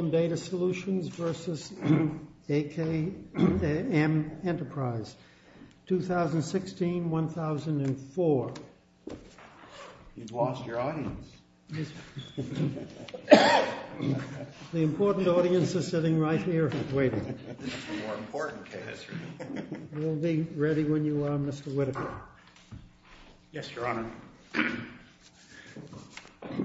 2016-2004. You've lost your audience. The important audience is sitting right here waiting. More important, yes. We'll be ready when you are, Mr. Whittaker. Yes, Your Honor. Thank you, Your Honor.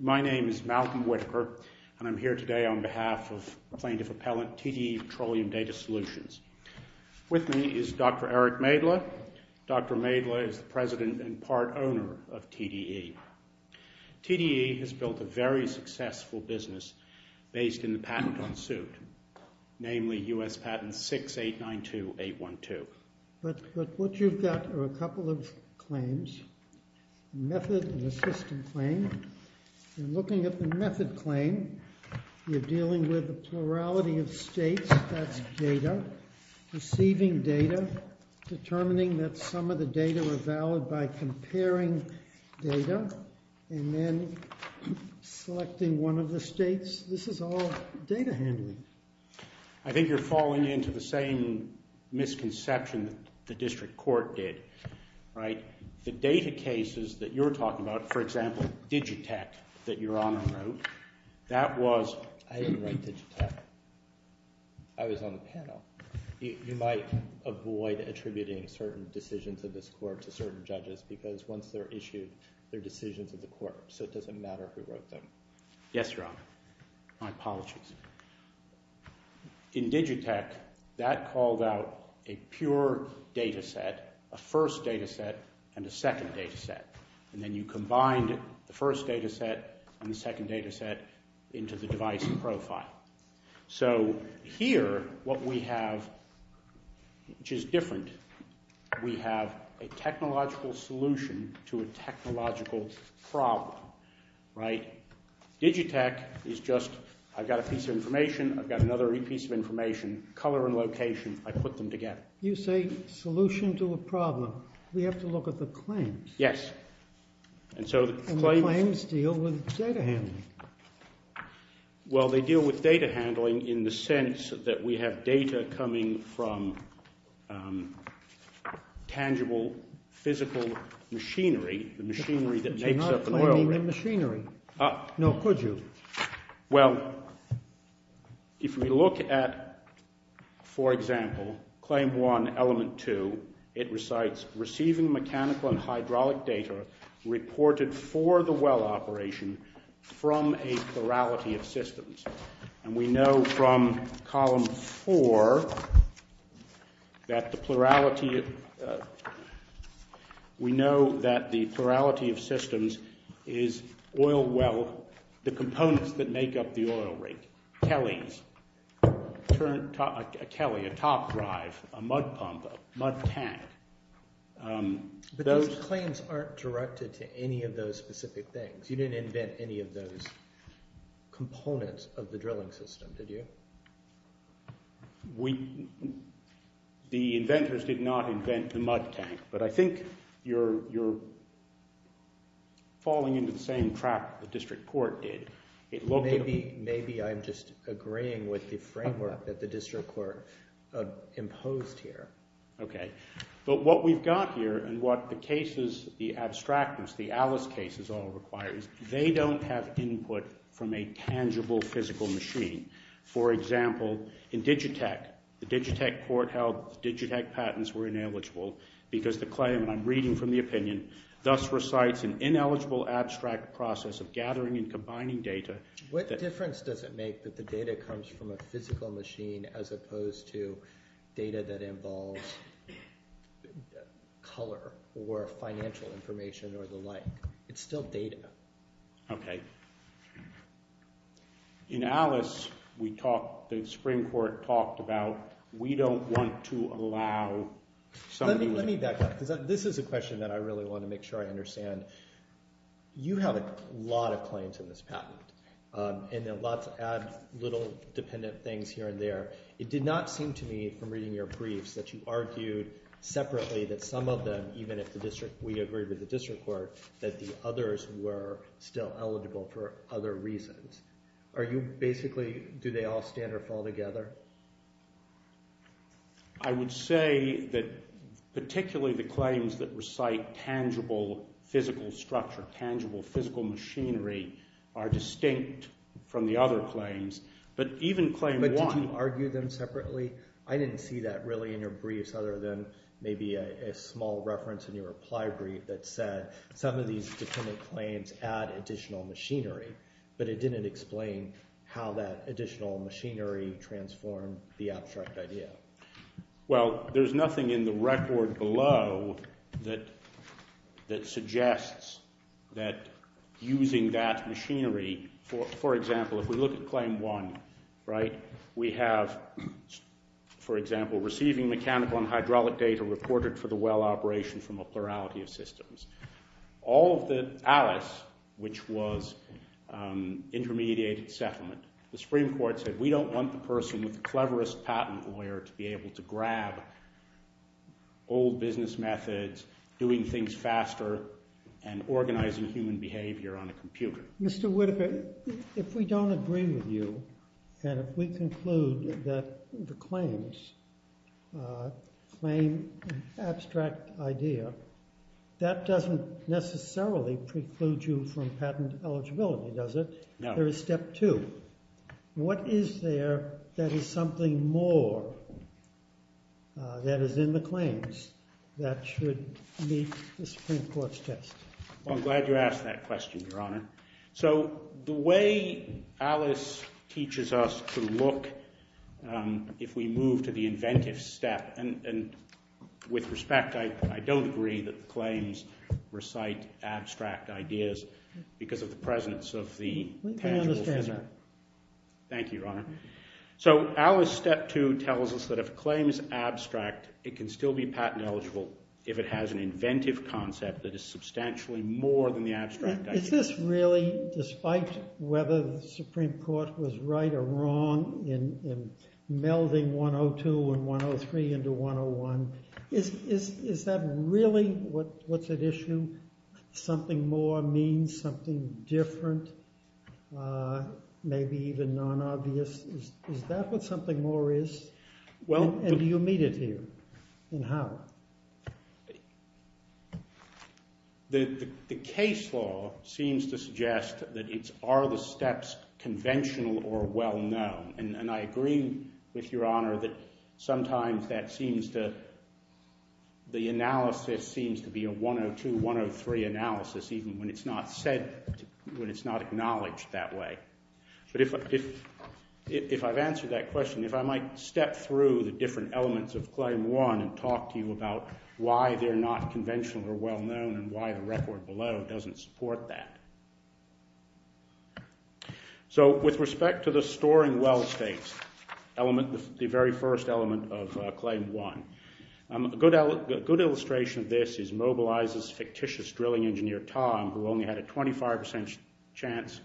My name is Malcolm Whittaker, and I'm here today on behalf of Plaintiff Appellant TDE Petroleum Data Solutions. With me is Dr. Eric Maedler. Dr. Maedler is the president and part owner of TDE. TDE has built a very successful business based in the patent on suit, namely U.S. Patent 6892812. But what you've got are a couple of claims, a method and a system claim. You're looking at the method claim. You're dealing with the plurality of states. That's data, receiving data, determining that some of the data are valid by comparing data, and then selecting one of the states. This is all data handling. I think you're falling into the same misconception that the district court did, right? The data cases that you're talking about, for example, Digitech that Your Honor wrote, that was... I didn't write Digitech. I was on the panel. You might avoid attributing certain decisions of this court to certain judges because once they're issued, they're decisions of the court, so it doesn't matter who wrote them. Yes, Your Honor. My apologies. In Digitech, that called out a pure data set, a first data set and a second data set, and then you combined the first data set and the second data set into the device profile. So here what we have, which is different, we have a technological solution to a technological problem, right? Digitech is just I've got a piece of information, I've got another piece of information, color and location, I put them together. You say solution to a problem. We have to look at the claims. Yes. And the claims deal with data handling. Well, they deal with data handling in the sense that we have data coming from tangible physical machinery, the machinery that makes up the world. But you're not claiming the machinery. No, could you? Well, if we look at, for example, Claim 1, Element 2, it recites receiving mechanical and hydraulic data reported for the well operation from a plurality of systems. And we know from Column 4 that the plurality, we know that the plurality of systems is oil well, the components that make up the oil rig, Kellys, a top drive, a mud pump, a mud tank. But those claims aren't directed to any of those specific things. You didn't invent any of those components of the drilling system, did you? The inventors did not invent the mud tank. But I think you're falling into the same trap the district court did. Maybe I'm just agreeing with the framework that the district court imposed here. But what we've got here and what the cases, the abstractness, the Alice cases all require, is they don't have input from a tangible physical machine. For example, in Digitech, the Digitech court held the Digitech patents were ineligible because the claim, and I'm reading from the opinion, thus recites an ineligible abstract process of gathering and combining data. What difference does it make that the data comes from a physical machine as opposed to data that involves color or financial information or the like? It's still data. Okay. In Alice, we talked, the Supreme Court talked about we don't want to allow somebody… Let me back up because this is a question that I really want to make sure I understand. You have a lot of claims in this patent, and lots of little dependent things here and there. It did not seem to me from reading your briefs that you argued separately that some of them, even if we agreed with the district court, that the others were still eligible for other reasons. Are you basically, do they all stand or fall together? I would say that particularly the claims that recite tangible physical structure, tangible physical machinery, are distinct from the other claims. But even claim one… But did you argue them separately? I didn't see that really in your briefs other than maybe a small reference in your reply brief that said some of these dependent claims add additional machinery, but it didn't explain how that additional machinery transformed the abstract idea. Well, there's nothing in the record below that suggests that using that machinery… For example, if we look at claim one, right, we have, for example, receiving mechanical and hydraulic data reported for the well operation from a plurality of systems. All of the Alice, which was intermediated settlement, the Supreme Court said we don't want the person with the cleverest patent lawyer to be able to grab old business methods, doing things faster, and organizing human behavior on a computer. Mr. Whitaker, if we don't agree with you, and if we conclude that the claims claim abstract idea, that doesn't necessarily preclude you from patent eligibility, does it? No. There is step two. What is there that is something more that is in the claims that should meet the Supreme Court's test? Well, I'm glad you asked that question, Your Honor. So the way Alice teaches us to look if we move to the inventive step, and with respect, I don't agree that the claims recite abstract ideas because of the presence of the tangible… I understand that. Thank you, Your Honor. So Alice step two tells us that if a claim is abstract, it can still be patent eligible if it has an inventive concept that is substantially more than the abstract idea. Is this really, despite whether the Supreme Court was right or wrong in melding 102 and 103 into 101, is that really what's at issue? Something more means something different, maybe even non-obvious? Is that what something more is? And do you meet it here? And how? The case law seems to suggest that it's are the steps conventional or well-known, and I agree with Your Honor that sometimes that seems to—the analysis seems to be a 102-103 analysis even when it's not said—when it's not acknowledged that way. But if I've answered that question, if I might step through the different elements of claim one and talk to you about why they're not conventional or well-known and why the record below doesn't support that. So with respect to the storing well states, the very first element of claim one, a good illustration of this is Mobilizer's fictitious drilling engineer, Tom, who only had a 25% chance,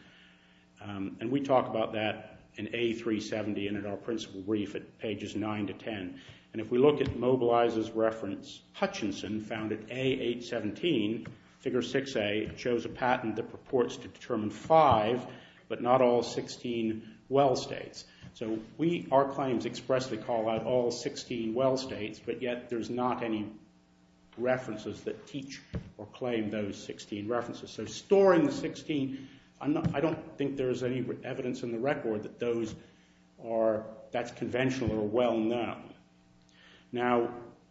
and we talk about that in A370 and in our principal brief at pages 9 to 10. And if we look at Mobilizer's reference, Hutchinson found at A817, figure 6A, chose a patent that purports to determine five but not all 16 well states. So we—our claims expressly call out all 16 well states, but yet there's not any references that teach or claim those 16 references. So storing the 16, I don't think there's any evidence in the record that those are— Now,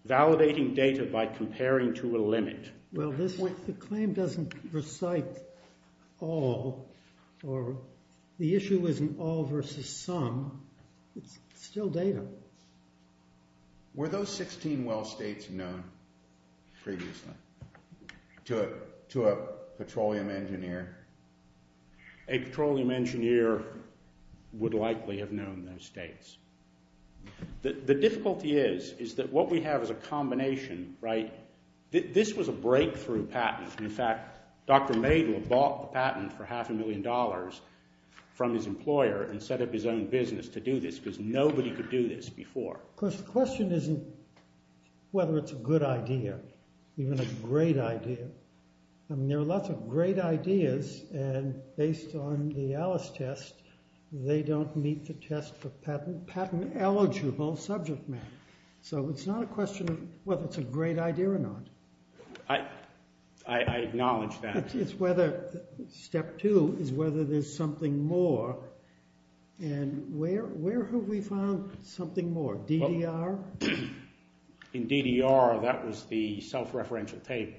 validating data by comparing to a limit. Well, this—the claim doesn't recite all or the issue isn't all versus some. It's still data. Were those 16 well states known previously to a petroleum engineer? A petroleum engineer would likely have known those states. The difficulty is, is that what we have is a combination, right? This was a breakthrough patent. In fact, Dr. Madel bought the patent for half a million dollars from his employer and set up his own business to do this because nobody could do this before. Of course, the question isn't whether it's a good idea, even a great idea. I mean, there are lots of great ideas, and based on the Alice test, they don't meet the test for patent-eligible subject matter. So it's not a question of whether it's a great idea or not. I acknowledge that. It's whether—step two is whether there's something more, and where have we found something more, DDR? In DDR, that was the self-referential table.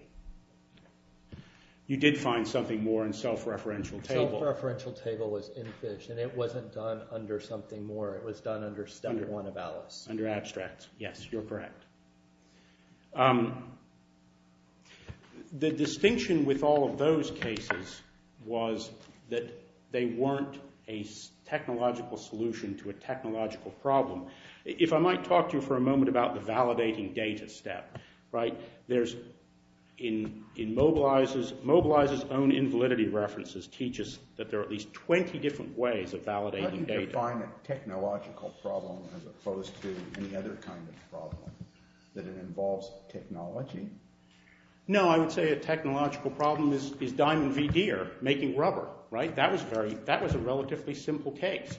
You did find something more in self-referential table. The self-referential table was in fish, and it wasn't done under something more. It was done under step one of Alice. Under abstracts, yes, you're correct. The distinction with all of those cases was that they weren't a technological solution to a technological problem. If I might talk to you for a moment about the validating data step, right? In Mobilizer's own invalidity references, it teaches that there are at least 20 different ways of validating data. How do you define a technological problem as opposed to any other kind of problem, that it involves technology? No, I would say a technological problem is Diamond v. Deere making rubber, right? That was a relatively simple case.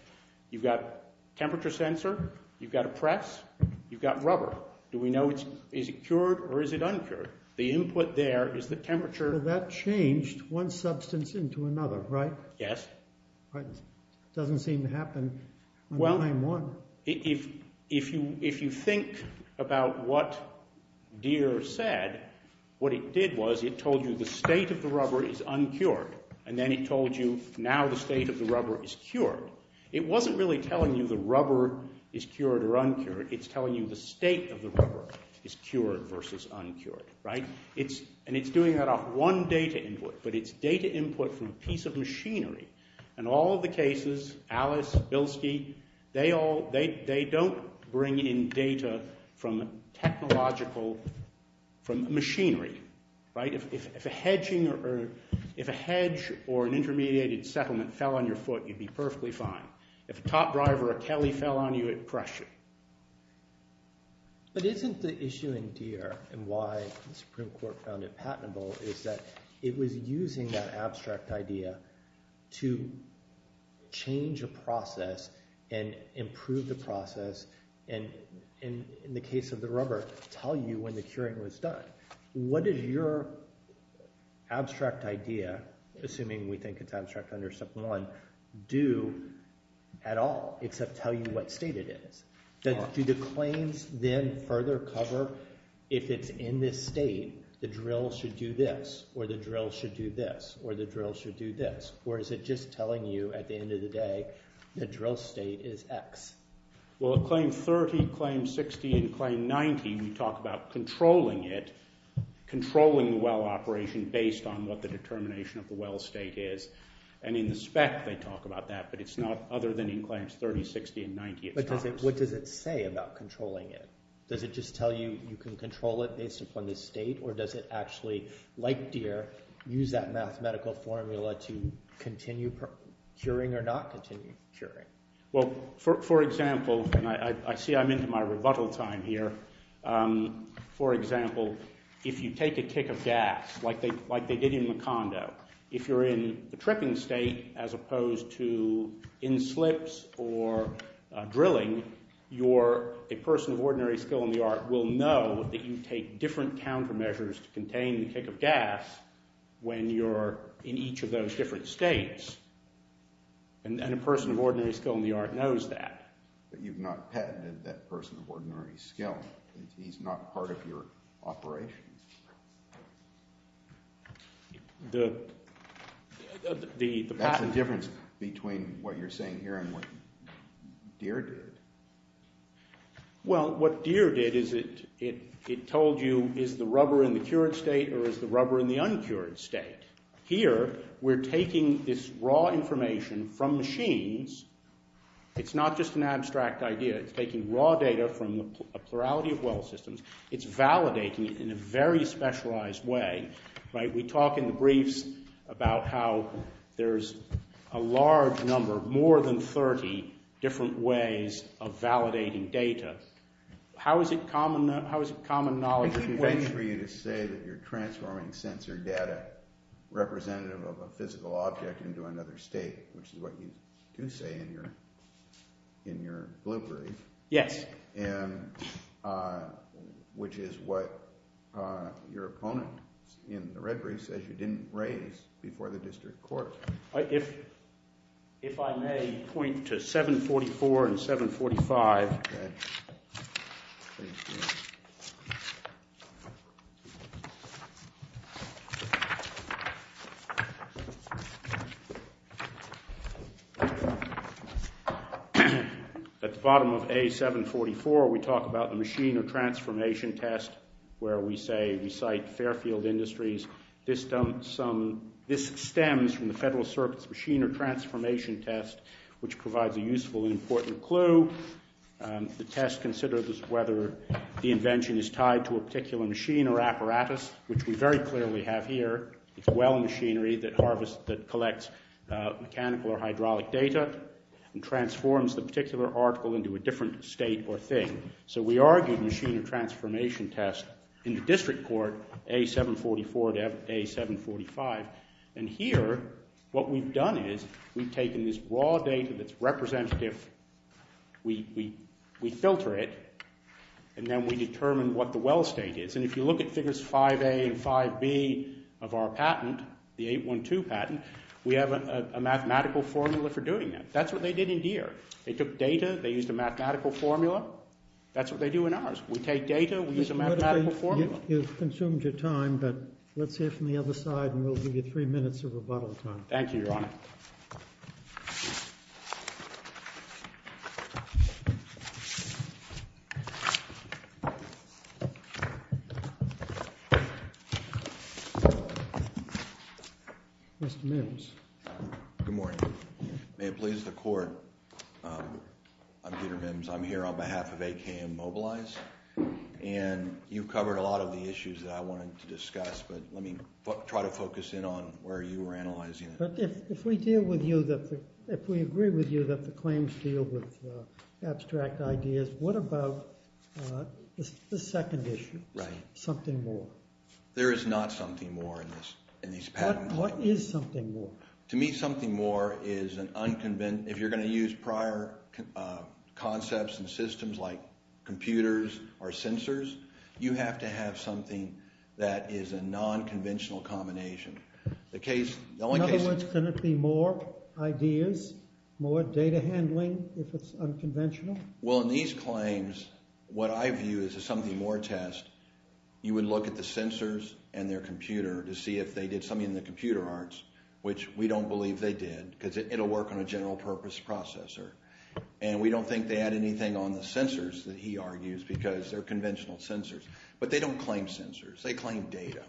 You've got a temperature sensor. You've got a press. You've got rubber. Do we know is it cured or is it uncured? The input there is the temperature. Well, that changed one substance into another, right? Yes. It doesn't seem to happen in time one. Well, if you think about what Deere said, what it did was it told you the state of the rubber is uncured, and then it told you now the state of the rubber is cured. It wasn't really telling you the rubber is cured or uncured. It's telling you the state of the rubber is cured versus uncured, right? And it's doing that off one data input, but it's data input from a piece of machinery. In all the cases, Alice, Bilski, they don't bring in data from technological machinery, right? If a hedge or an intermediated settlement fell on your foot, you'd be perfectly fine. If a top driver or a Kelly fell on you, it'd crush you. But isn't the issue in Deere, and why the Supreme Court found it patentable, is that it was using that abstract idea to change a process and improve the process and, in the case of the rubber, tell you when the curing was done. What did your abstract idea, assuming we think it's abstract under step one, do at all except tell you what state it is? Do the claims then further cover if it's in this state, the drill should do this or the drill should do this or the drill should do this, or is it just telling you at the end of the day the drill state is X? Well, in Claim 30, Claim 60, and Claim 90, we talk about controlling it, controlling the well operation based on what the determination of the well state is. And in the spec they talk about that, but it's not other than in Claims 30, 60, and 90. But what does it say about controlling it? Does it just tell you you can control it based upon the state, or does it actually, like Deere, use that mathematical formula to continue curing or not continue curing? Well, for example, and I see I'm into my rebuttal time here, for example, if you take a kick of gas, like they did in Macondo, if you're in the tripping state as opposed to in slips or drilling, you're a person of ordinary skill in the art will know that you take different countermeasures to contain the kick of gas when you're in each of those different states. And a person of ordinary skill in the art knows that. But you've not patented that person of ordinary skill. He's not part of your operation. That's the difference between what you're saying here and what Deere did. Well, what Deere did is it told you, is the rubber in the cured state or is the rubber in the uncured state? Here we're taking this raw information from machines. It's not just an abstract idea. It's taking raw data from a plurality of well systems. It's validating it in a very specialized way. We talk in the briefs about how there's a large number, more than 30 different ways of validating data. How is it common knowledge? I think it's for you to say that you're transforming sensor data representative of a physical object into another state, which is what you do say in your blue brief. Yes. And which is what your opponent in the red brief says you didn't raise before the district court. If I may point to 744 and 745. Okay. At the bottom of A744 we talk about the machine or transformation test where we say we cite Fairfield Industries. This stems from the Federal Circuit's machine or transformation test, which provides a useful and important clue. The test considers whether the invention is tied to a particular machine or apparatus, which we very clearly have here. It's a well machinery that harvests, that collects mechanical or hydraulic data and transforms the particular article into a different state or thing. So we argued machine or transformation test in the district court, A744 to A745. And here what we've done is we've taken this raw data that's representative, we filter it, and then we determine what the well state is. And if you look at figures 5A and 5B of our patent, the 812 patent, we have a mathematical formula for doing that. That's what they did in Deere. They took data, they used a mathematical formula. That's what they do in ours. We take data, we use a mathematical formula. Well, you've consumed your time, but let's hear from the other side, and we'll give you three minutes of rebuttal time. Thank you, Your Honor. Mr. Mims. Good morning. May it please the court, I'm Peter Mims. I'm here on behalf of AKM Mobilize. And you've covered a lot of the issues that I wanted to discuss, but let me try to focus in on where you were analyzing it. But if we deal with you, if we agree with you that the claims deal with abstract ideas, what about the second issue, something more? There is not something more in these patents. What is something more? To me, something more is an unconventional, if you're going to use prior concepts and systems like computers or sensors, you have to have something that is a nonconventional combination. In other words, can it be more ideas, more data handling if it's unconventional? Well, in these claims, what I view as a something more test, you would look at the sensors and their computer to see if they did something in the computer arts, which we don't believe they did because it will work on a general purpose processor. And we don't think they had anything on the sensors that he argues because they're conventional sensors. But they don't claim sensors. They claim data,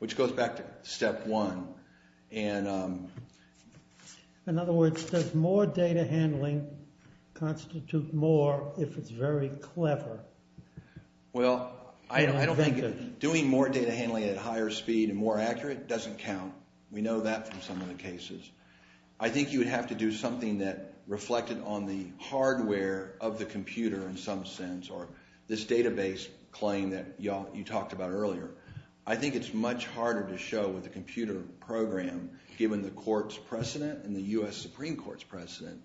which goes back to step one. In other words, does more data handling constitute more if it's very clever? Well, I don't think doing more data handling at higher speed and more accurate doesn't count. We know that from some of the cases. I think you would have to do something that reflected on the hardware of the computer in some sense or this database claim that you talked about earlier. I think it's much harder to show with a computer program given the court's precedent and the U.S. Supreme Court's precedent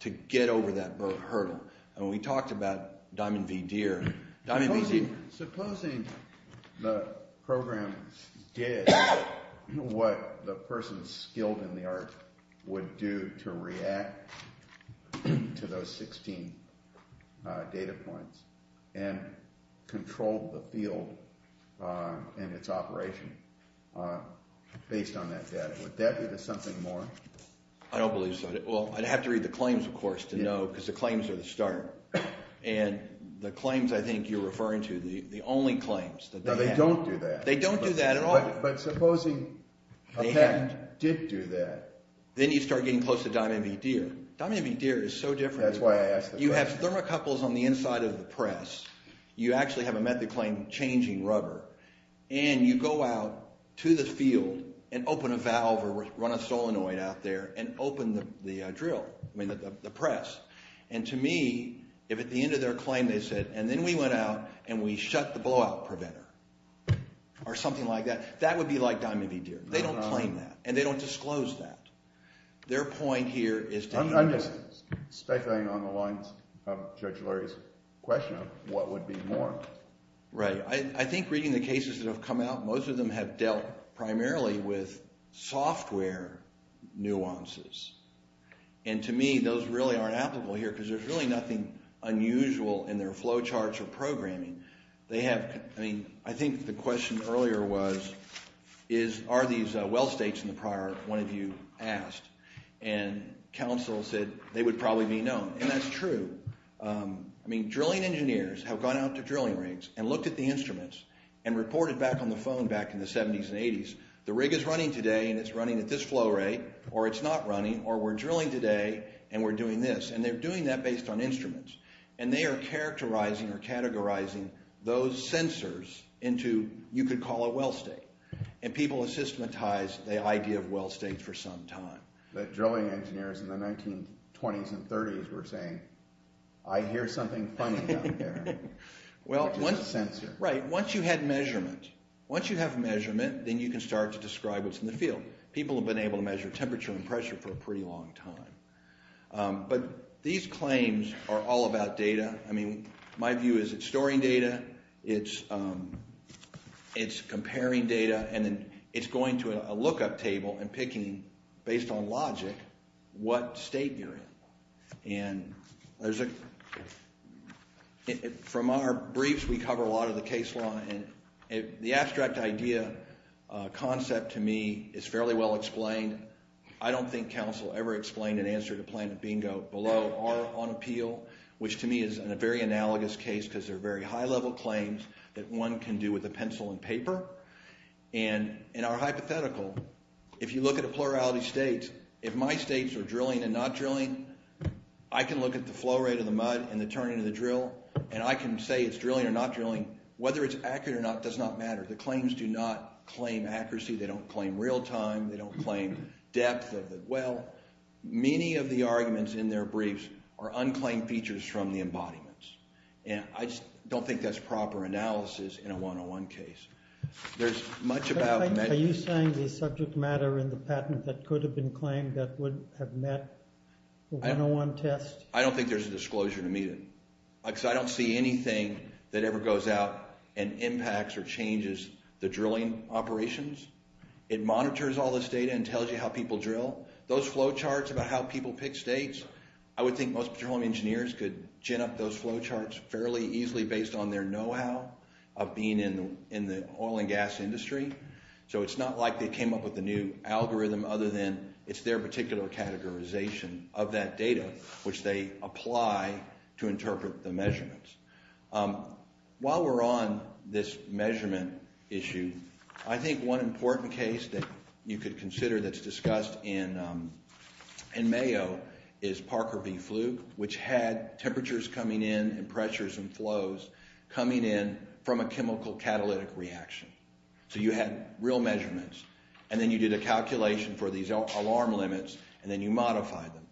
to get over that hurdle. And we talked about Diamond v. Deere. Supposing the program did what the person skilled in the art would do to react to those 16 data points and controlled the field and its operation based on that data. Would that be the something more? I don't believe so. Well, I'd have to read the claims, of course, to know because the claims are the start. And the claims I think you're referring to, the only claims that they have. No, they don't do that. They don't do that at all. But supposing a patent did do that. Then you start getting close to Diamond v. Deere. Diamond v. Deere is so different. That's why I asked the question. You have thermocouples on the inside of the press. You actually have a method claim changing rubber. And you go out to the field and open a valve or run a solenoid out there and open the press. And to me, if at the end of their claim they said, and then we went out and we shut the blowout preventer or something like that, that would be like Diamond v. Deere. They don't claim that. And they don't disclose that. Their point here is to… I'm just speculating on the lines of Judge Lurie's question of what would be more. Right. I think reading the cases that have come out, most of them have dealt primarily with software nuances. And to me, those really aren't applicable here because there's really nothing unusual in their flow charts or programming. They have… I mean, I think the question earlier was, are these well states in the prior one of you asked? And counsel said they would probably be known. And that's true. I mean, drilling engineers have gone out to drilling rigs and looked at the instruments and reported back on the phone back in the 70s and 80s, the rig is running today and it's running at this flow rate, or it's not running, or we're drilling today and we're doing this. And they're doing that based on instruments. And they are characterizing or categorizing those sensors into you could call a well state. And people have systematized the idea of well states for some time. The drilling engineers in the 1920s and 30s were saying, I hear something funny down here. Well, once… It's a sensor. Right. Once you had measurement. Once you have measurement, then you can start to describe what's in the field. People have been able to measure temperature and pressure for a pretty long time. But these claims are all about data. I mean, my view is it's storing data, it's comparing data, and then it's going to a lookup table and picking, based on logic, what state you're in. And there's a… From our briefs, we cover a lot of the case law. And the abstract idea, concept to me is fairly well explained. I don't think counsel ever explained an answer to Planet Bingo below or on appeal, which to me is a very analogous case because they're very high-level claims that one can do with a pencil and paper. And in our hypothetical, if you look at a plurality of states, if my states are drilling and not drilling, I can look at the flow rate of the mud and the turning of the drill, and I can say it's drilling or not drilling. Whether it's accurate or not does not matter. The claims do not claim accuracy. They don't claim real time. They don't claim depth of the well. Many of the arguments in their briefs are unclaimed features from the embodiments. And I just don't think that's proper analysis in a 101 case. There's much about… Are you saying the subject matter in the patent that could have been claimed that would have met a 101 test? I don't think there's a disclosure to meet it because I don't see anything that ever goes out and impacts or changes the drilling operations. It monitors all this data and tells you how people drill. Those flow charts about how people pick states, I would think most petroleum engineers could gin up those flow charts fairly easily based on their know-how of being in the oil and gas industry. So it's not like they came up with a new algorithm other than it's their particular categorization of that data, which they apply to interpret the measurements. While we're on this measurement issue, I think one important case that you could consider that's discussed in Mayo is Parker v. Fluke, which had temperatures coming in and pressures and flows coming in from a chemical catalytic reaction. So you had real measurements, and then you did a calculation for these alarm limits, and then you modified them.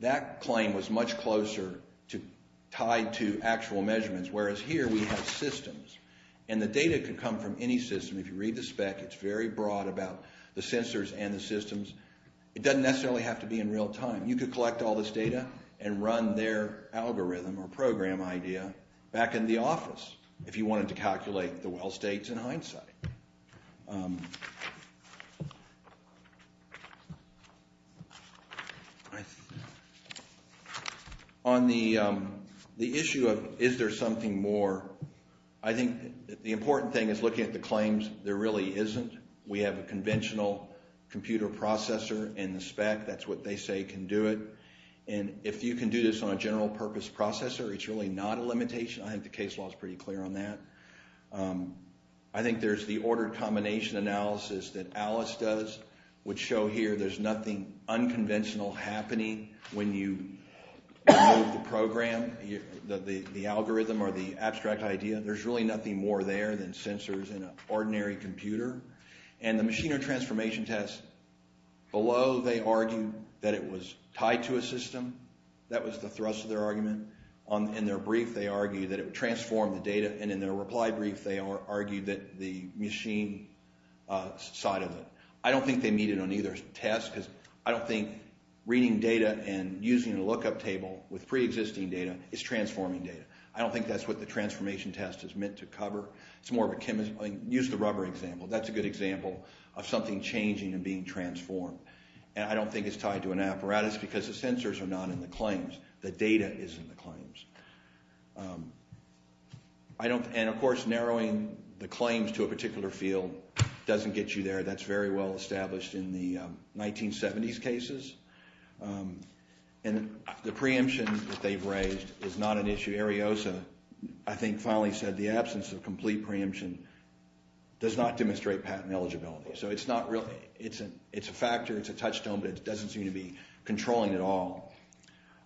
That claim was much closer tied to actual measurements, whereas here we have systems, and the data could come from any system. If you read the spec, it's very broad about the sensors and the systems. It doesn't necessarily have to be in real time. You could collect all this data and run their algorithm or program idea back in the office if you wanted to calculate the well states in hindsight. On the issue of is there something more, I think the important thing is looking at the claims there really isn't. We have a conventional computer processor in the spec. That's what they say can do it, and if you can do this on a general purpose processor, it's really not a limitation. I think the case law is pretty clear on that. I think there's the ordered combination analysis that Alice does, which show here there's nothing unconventional happening when you move the program, the algorithm or the abstract idea. There's really nothing more there than sensors in an ordinary computer. And the machinery transformation test, below they argue that it was tied to a system. That was the thrust of their argument. In their brief, they argued that it transformed the data, and in their reply brief, they argued that the machine side of it. I don't think they meet it on either test because I don't think reading data and using a lookup table with preexisting data is transforming data. I don't think that's what the transformation test is meant to cover. It's more of a chemical, use the rubber example. That's a good example of something changing and being transformed. And I don't think it's tied to an apparatus because the sensors are not in the claims. The data is in the claims. And, of course, narrowing the claims to a particular field doesn't get you there. That's very well established in the 1970s cases. And the preemption that they've raised is not an issue. Ariosa, I think, finally said the absence of complete preemption does not demonstrate patent eligibility. So it's a factor, it's a touchstone, but it doesn't seem to be controlling at all.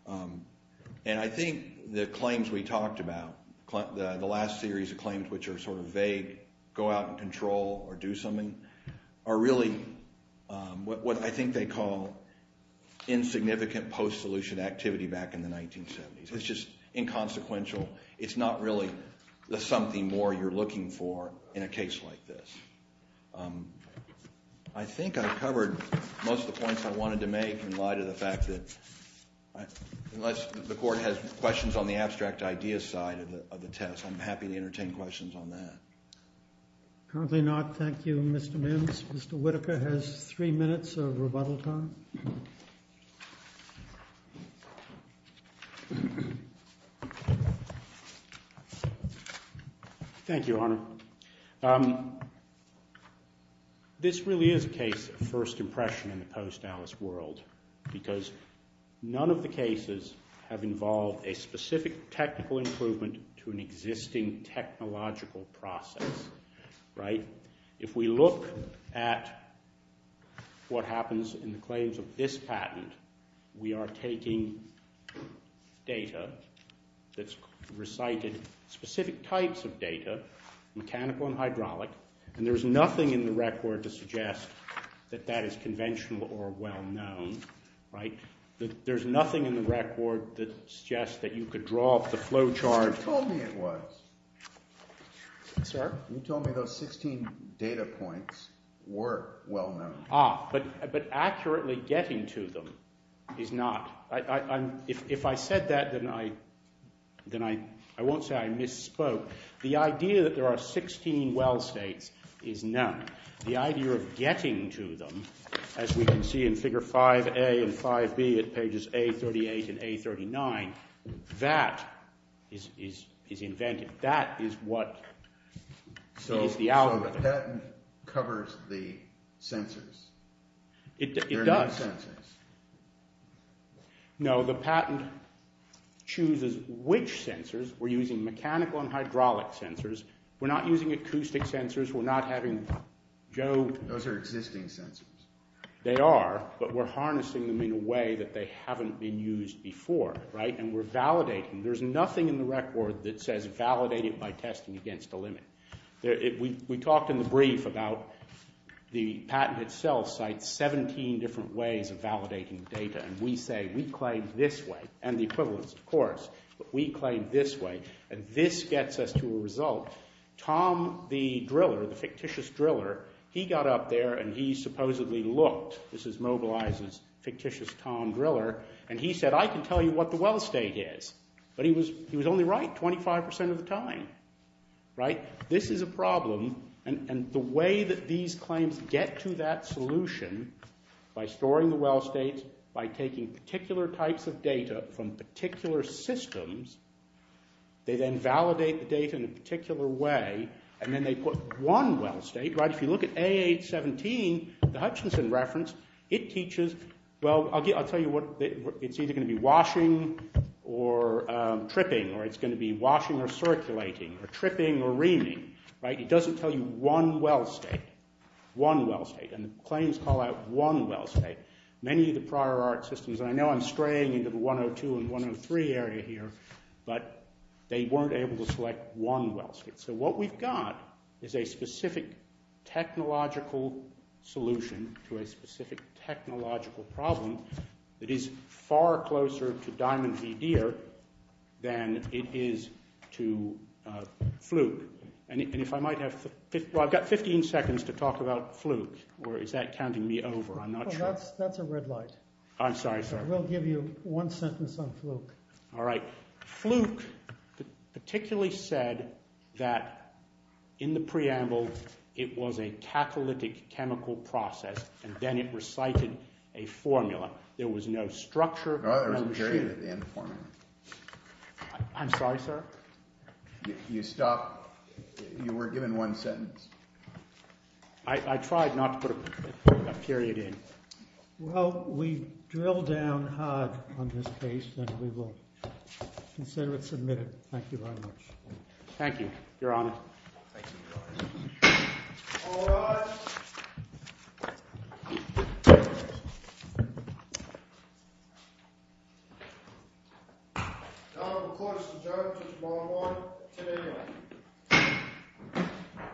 And I think the claims we talked about, the last series of claims, which are sort of vague, go out and control or do something, are really what I think they call insignificant post-solution activity back in the 1970s. It's just inconsequential. It's not really something more you're looking for in a case like this. I think I've covered most of the points I wanted to make in light of the fact that unless the court has questions on the abstract idea side of the test, I'm happy to entertain questions on that. Currently not. Thank you, Mr. Mims. Mr. Whitaker has three minutes of rebuttal time. Thank you, Your Honor. This really is a case of first impression in the post-Dallas world because none of the cases have involved a specific technical improvement to an existing technological process. If we look at what happens in the claims of this patent, we are taking data that's recited, specific types of data, mechanical and hydraulic, and there's nothing in the record to suggest that that is conventional or well-known. There's nothing in the record that suggests that you could draw up the flow chart. You told me it was. Sir? You told me those 16 data points were well-known. Ah, but accurately getting to them is not. If I said that, then I won't say I misspoke. The idea that there are 16 well states is none. The idea of getting to them, as we can see in figure 5A and 5B at pages A38 and A39, that is invented. That is what is the algorithm. So the patent covers the sensors? It does. There are no sensors. No, the patent chooses which sensors. We're using mechanical and hydraulic sensors. We're not using acoustic sensors. Those are existing sensors. They are, but we're harnessing them in a way that they haven't been used before, and we're validating. There's nothing in the record that says validate it by testing against a limit. We talked in the brief about the patent itself cites 17 different ways of validating data, and we say we claim this way, and the equivalents, of course, but we claim this way, and this gets us to a result. Tom the Driller, the fictitious Driller, he got up there, and he supposedly looked. This is Mobilizer's fictitious Tom Driller, and he said, I can tell you what the well state is, but he was only right 25 percent of the time. This is a problem, and the way that these claims get to that solution by storing the well states, by taking particular types of data from particular systems, they then validate the data in a particular way, and then they put one well state. If you look at A817, the Hutchinson reference, it teaches, well, I'll tell you what. It's either going to be washing or tripping, or it's going to be washing or circulating, or tripping or reaming. It doesn't tell you one well state, one well state, and the claims call out one well state. Many of the prior art systems, and I know I'm straying into the 102 and 103 area here, but they weren't able to select one well state. So what we've got is a specific technological solution to a specific technological problem that is far closer to Diamond v. Deere than it is to Fluke. I've got 15 seconds to talk about Fluke, or is that counting me over? I'm not sure. That's a red light. I'm sorry, sir. We'll give you one sentence on Fluke. All right. Fluke particularly said that in the preamble it was a catalytic chemical process, and then it recited a formula. There was no structure. No, there was a period at the end of the formula. I'm sorry, sir? You stopped. You were given one sentence. I tried not to put a period in. Well, we drilled down hard on this case, and we will consider it submitted. Thank you very much. Thank you, Your Honor. Thank you, Your Honor. All rise. The Honorable Court has adjourned until tomorrow morning at 10 a.m.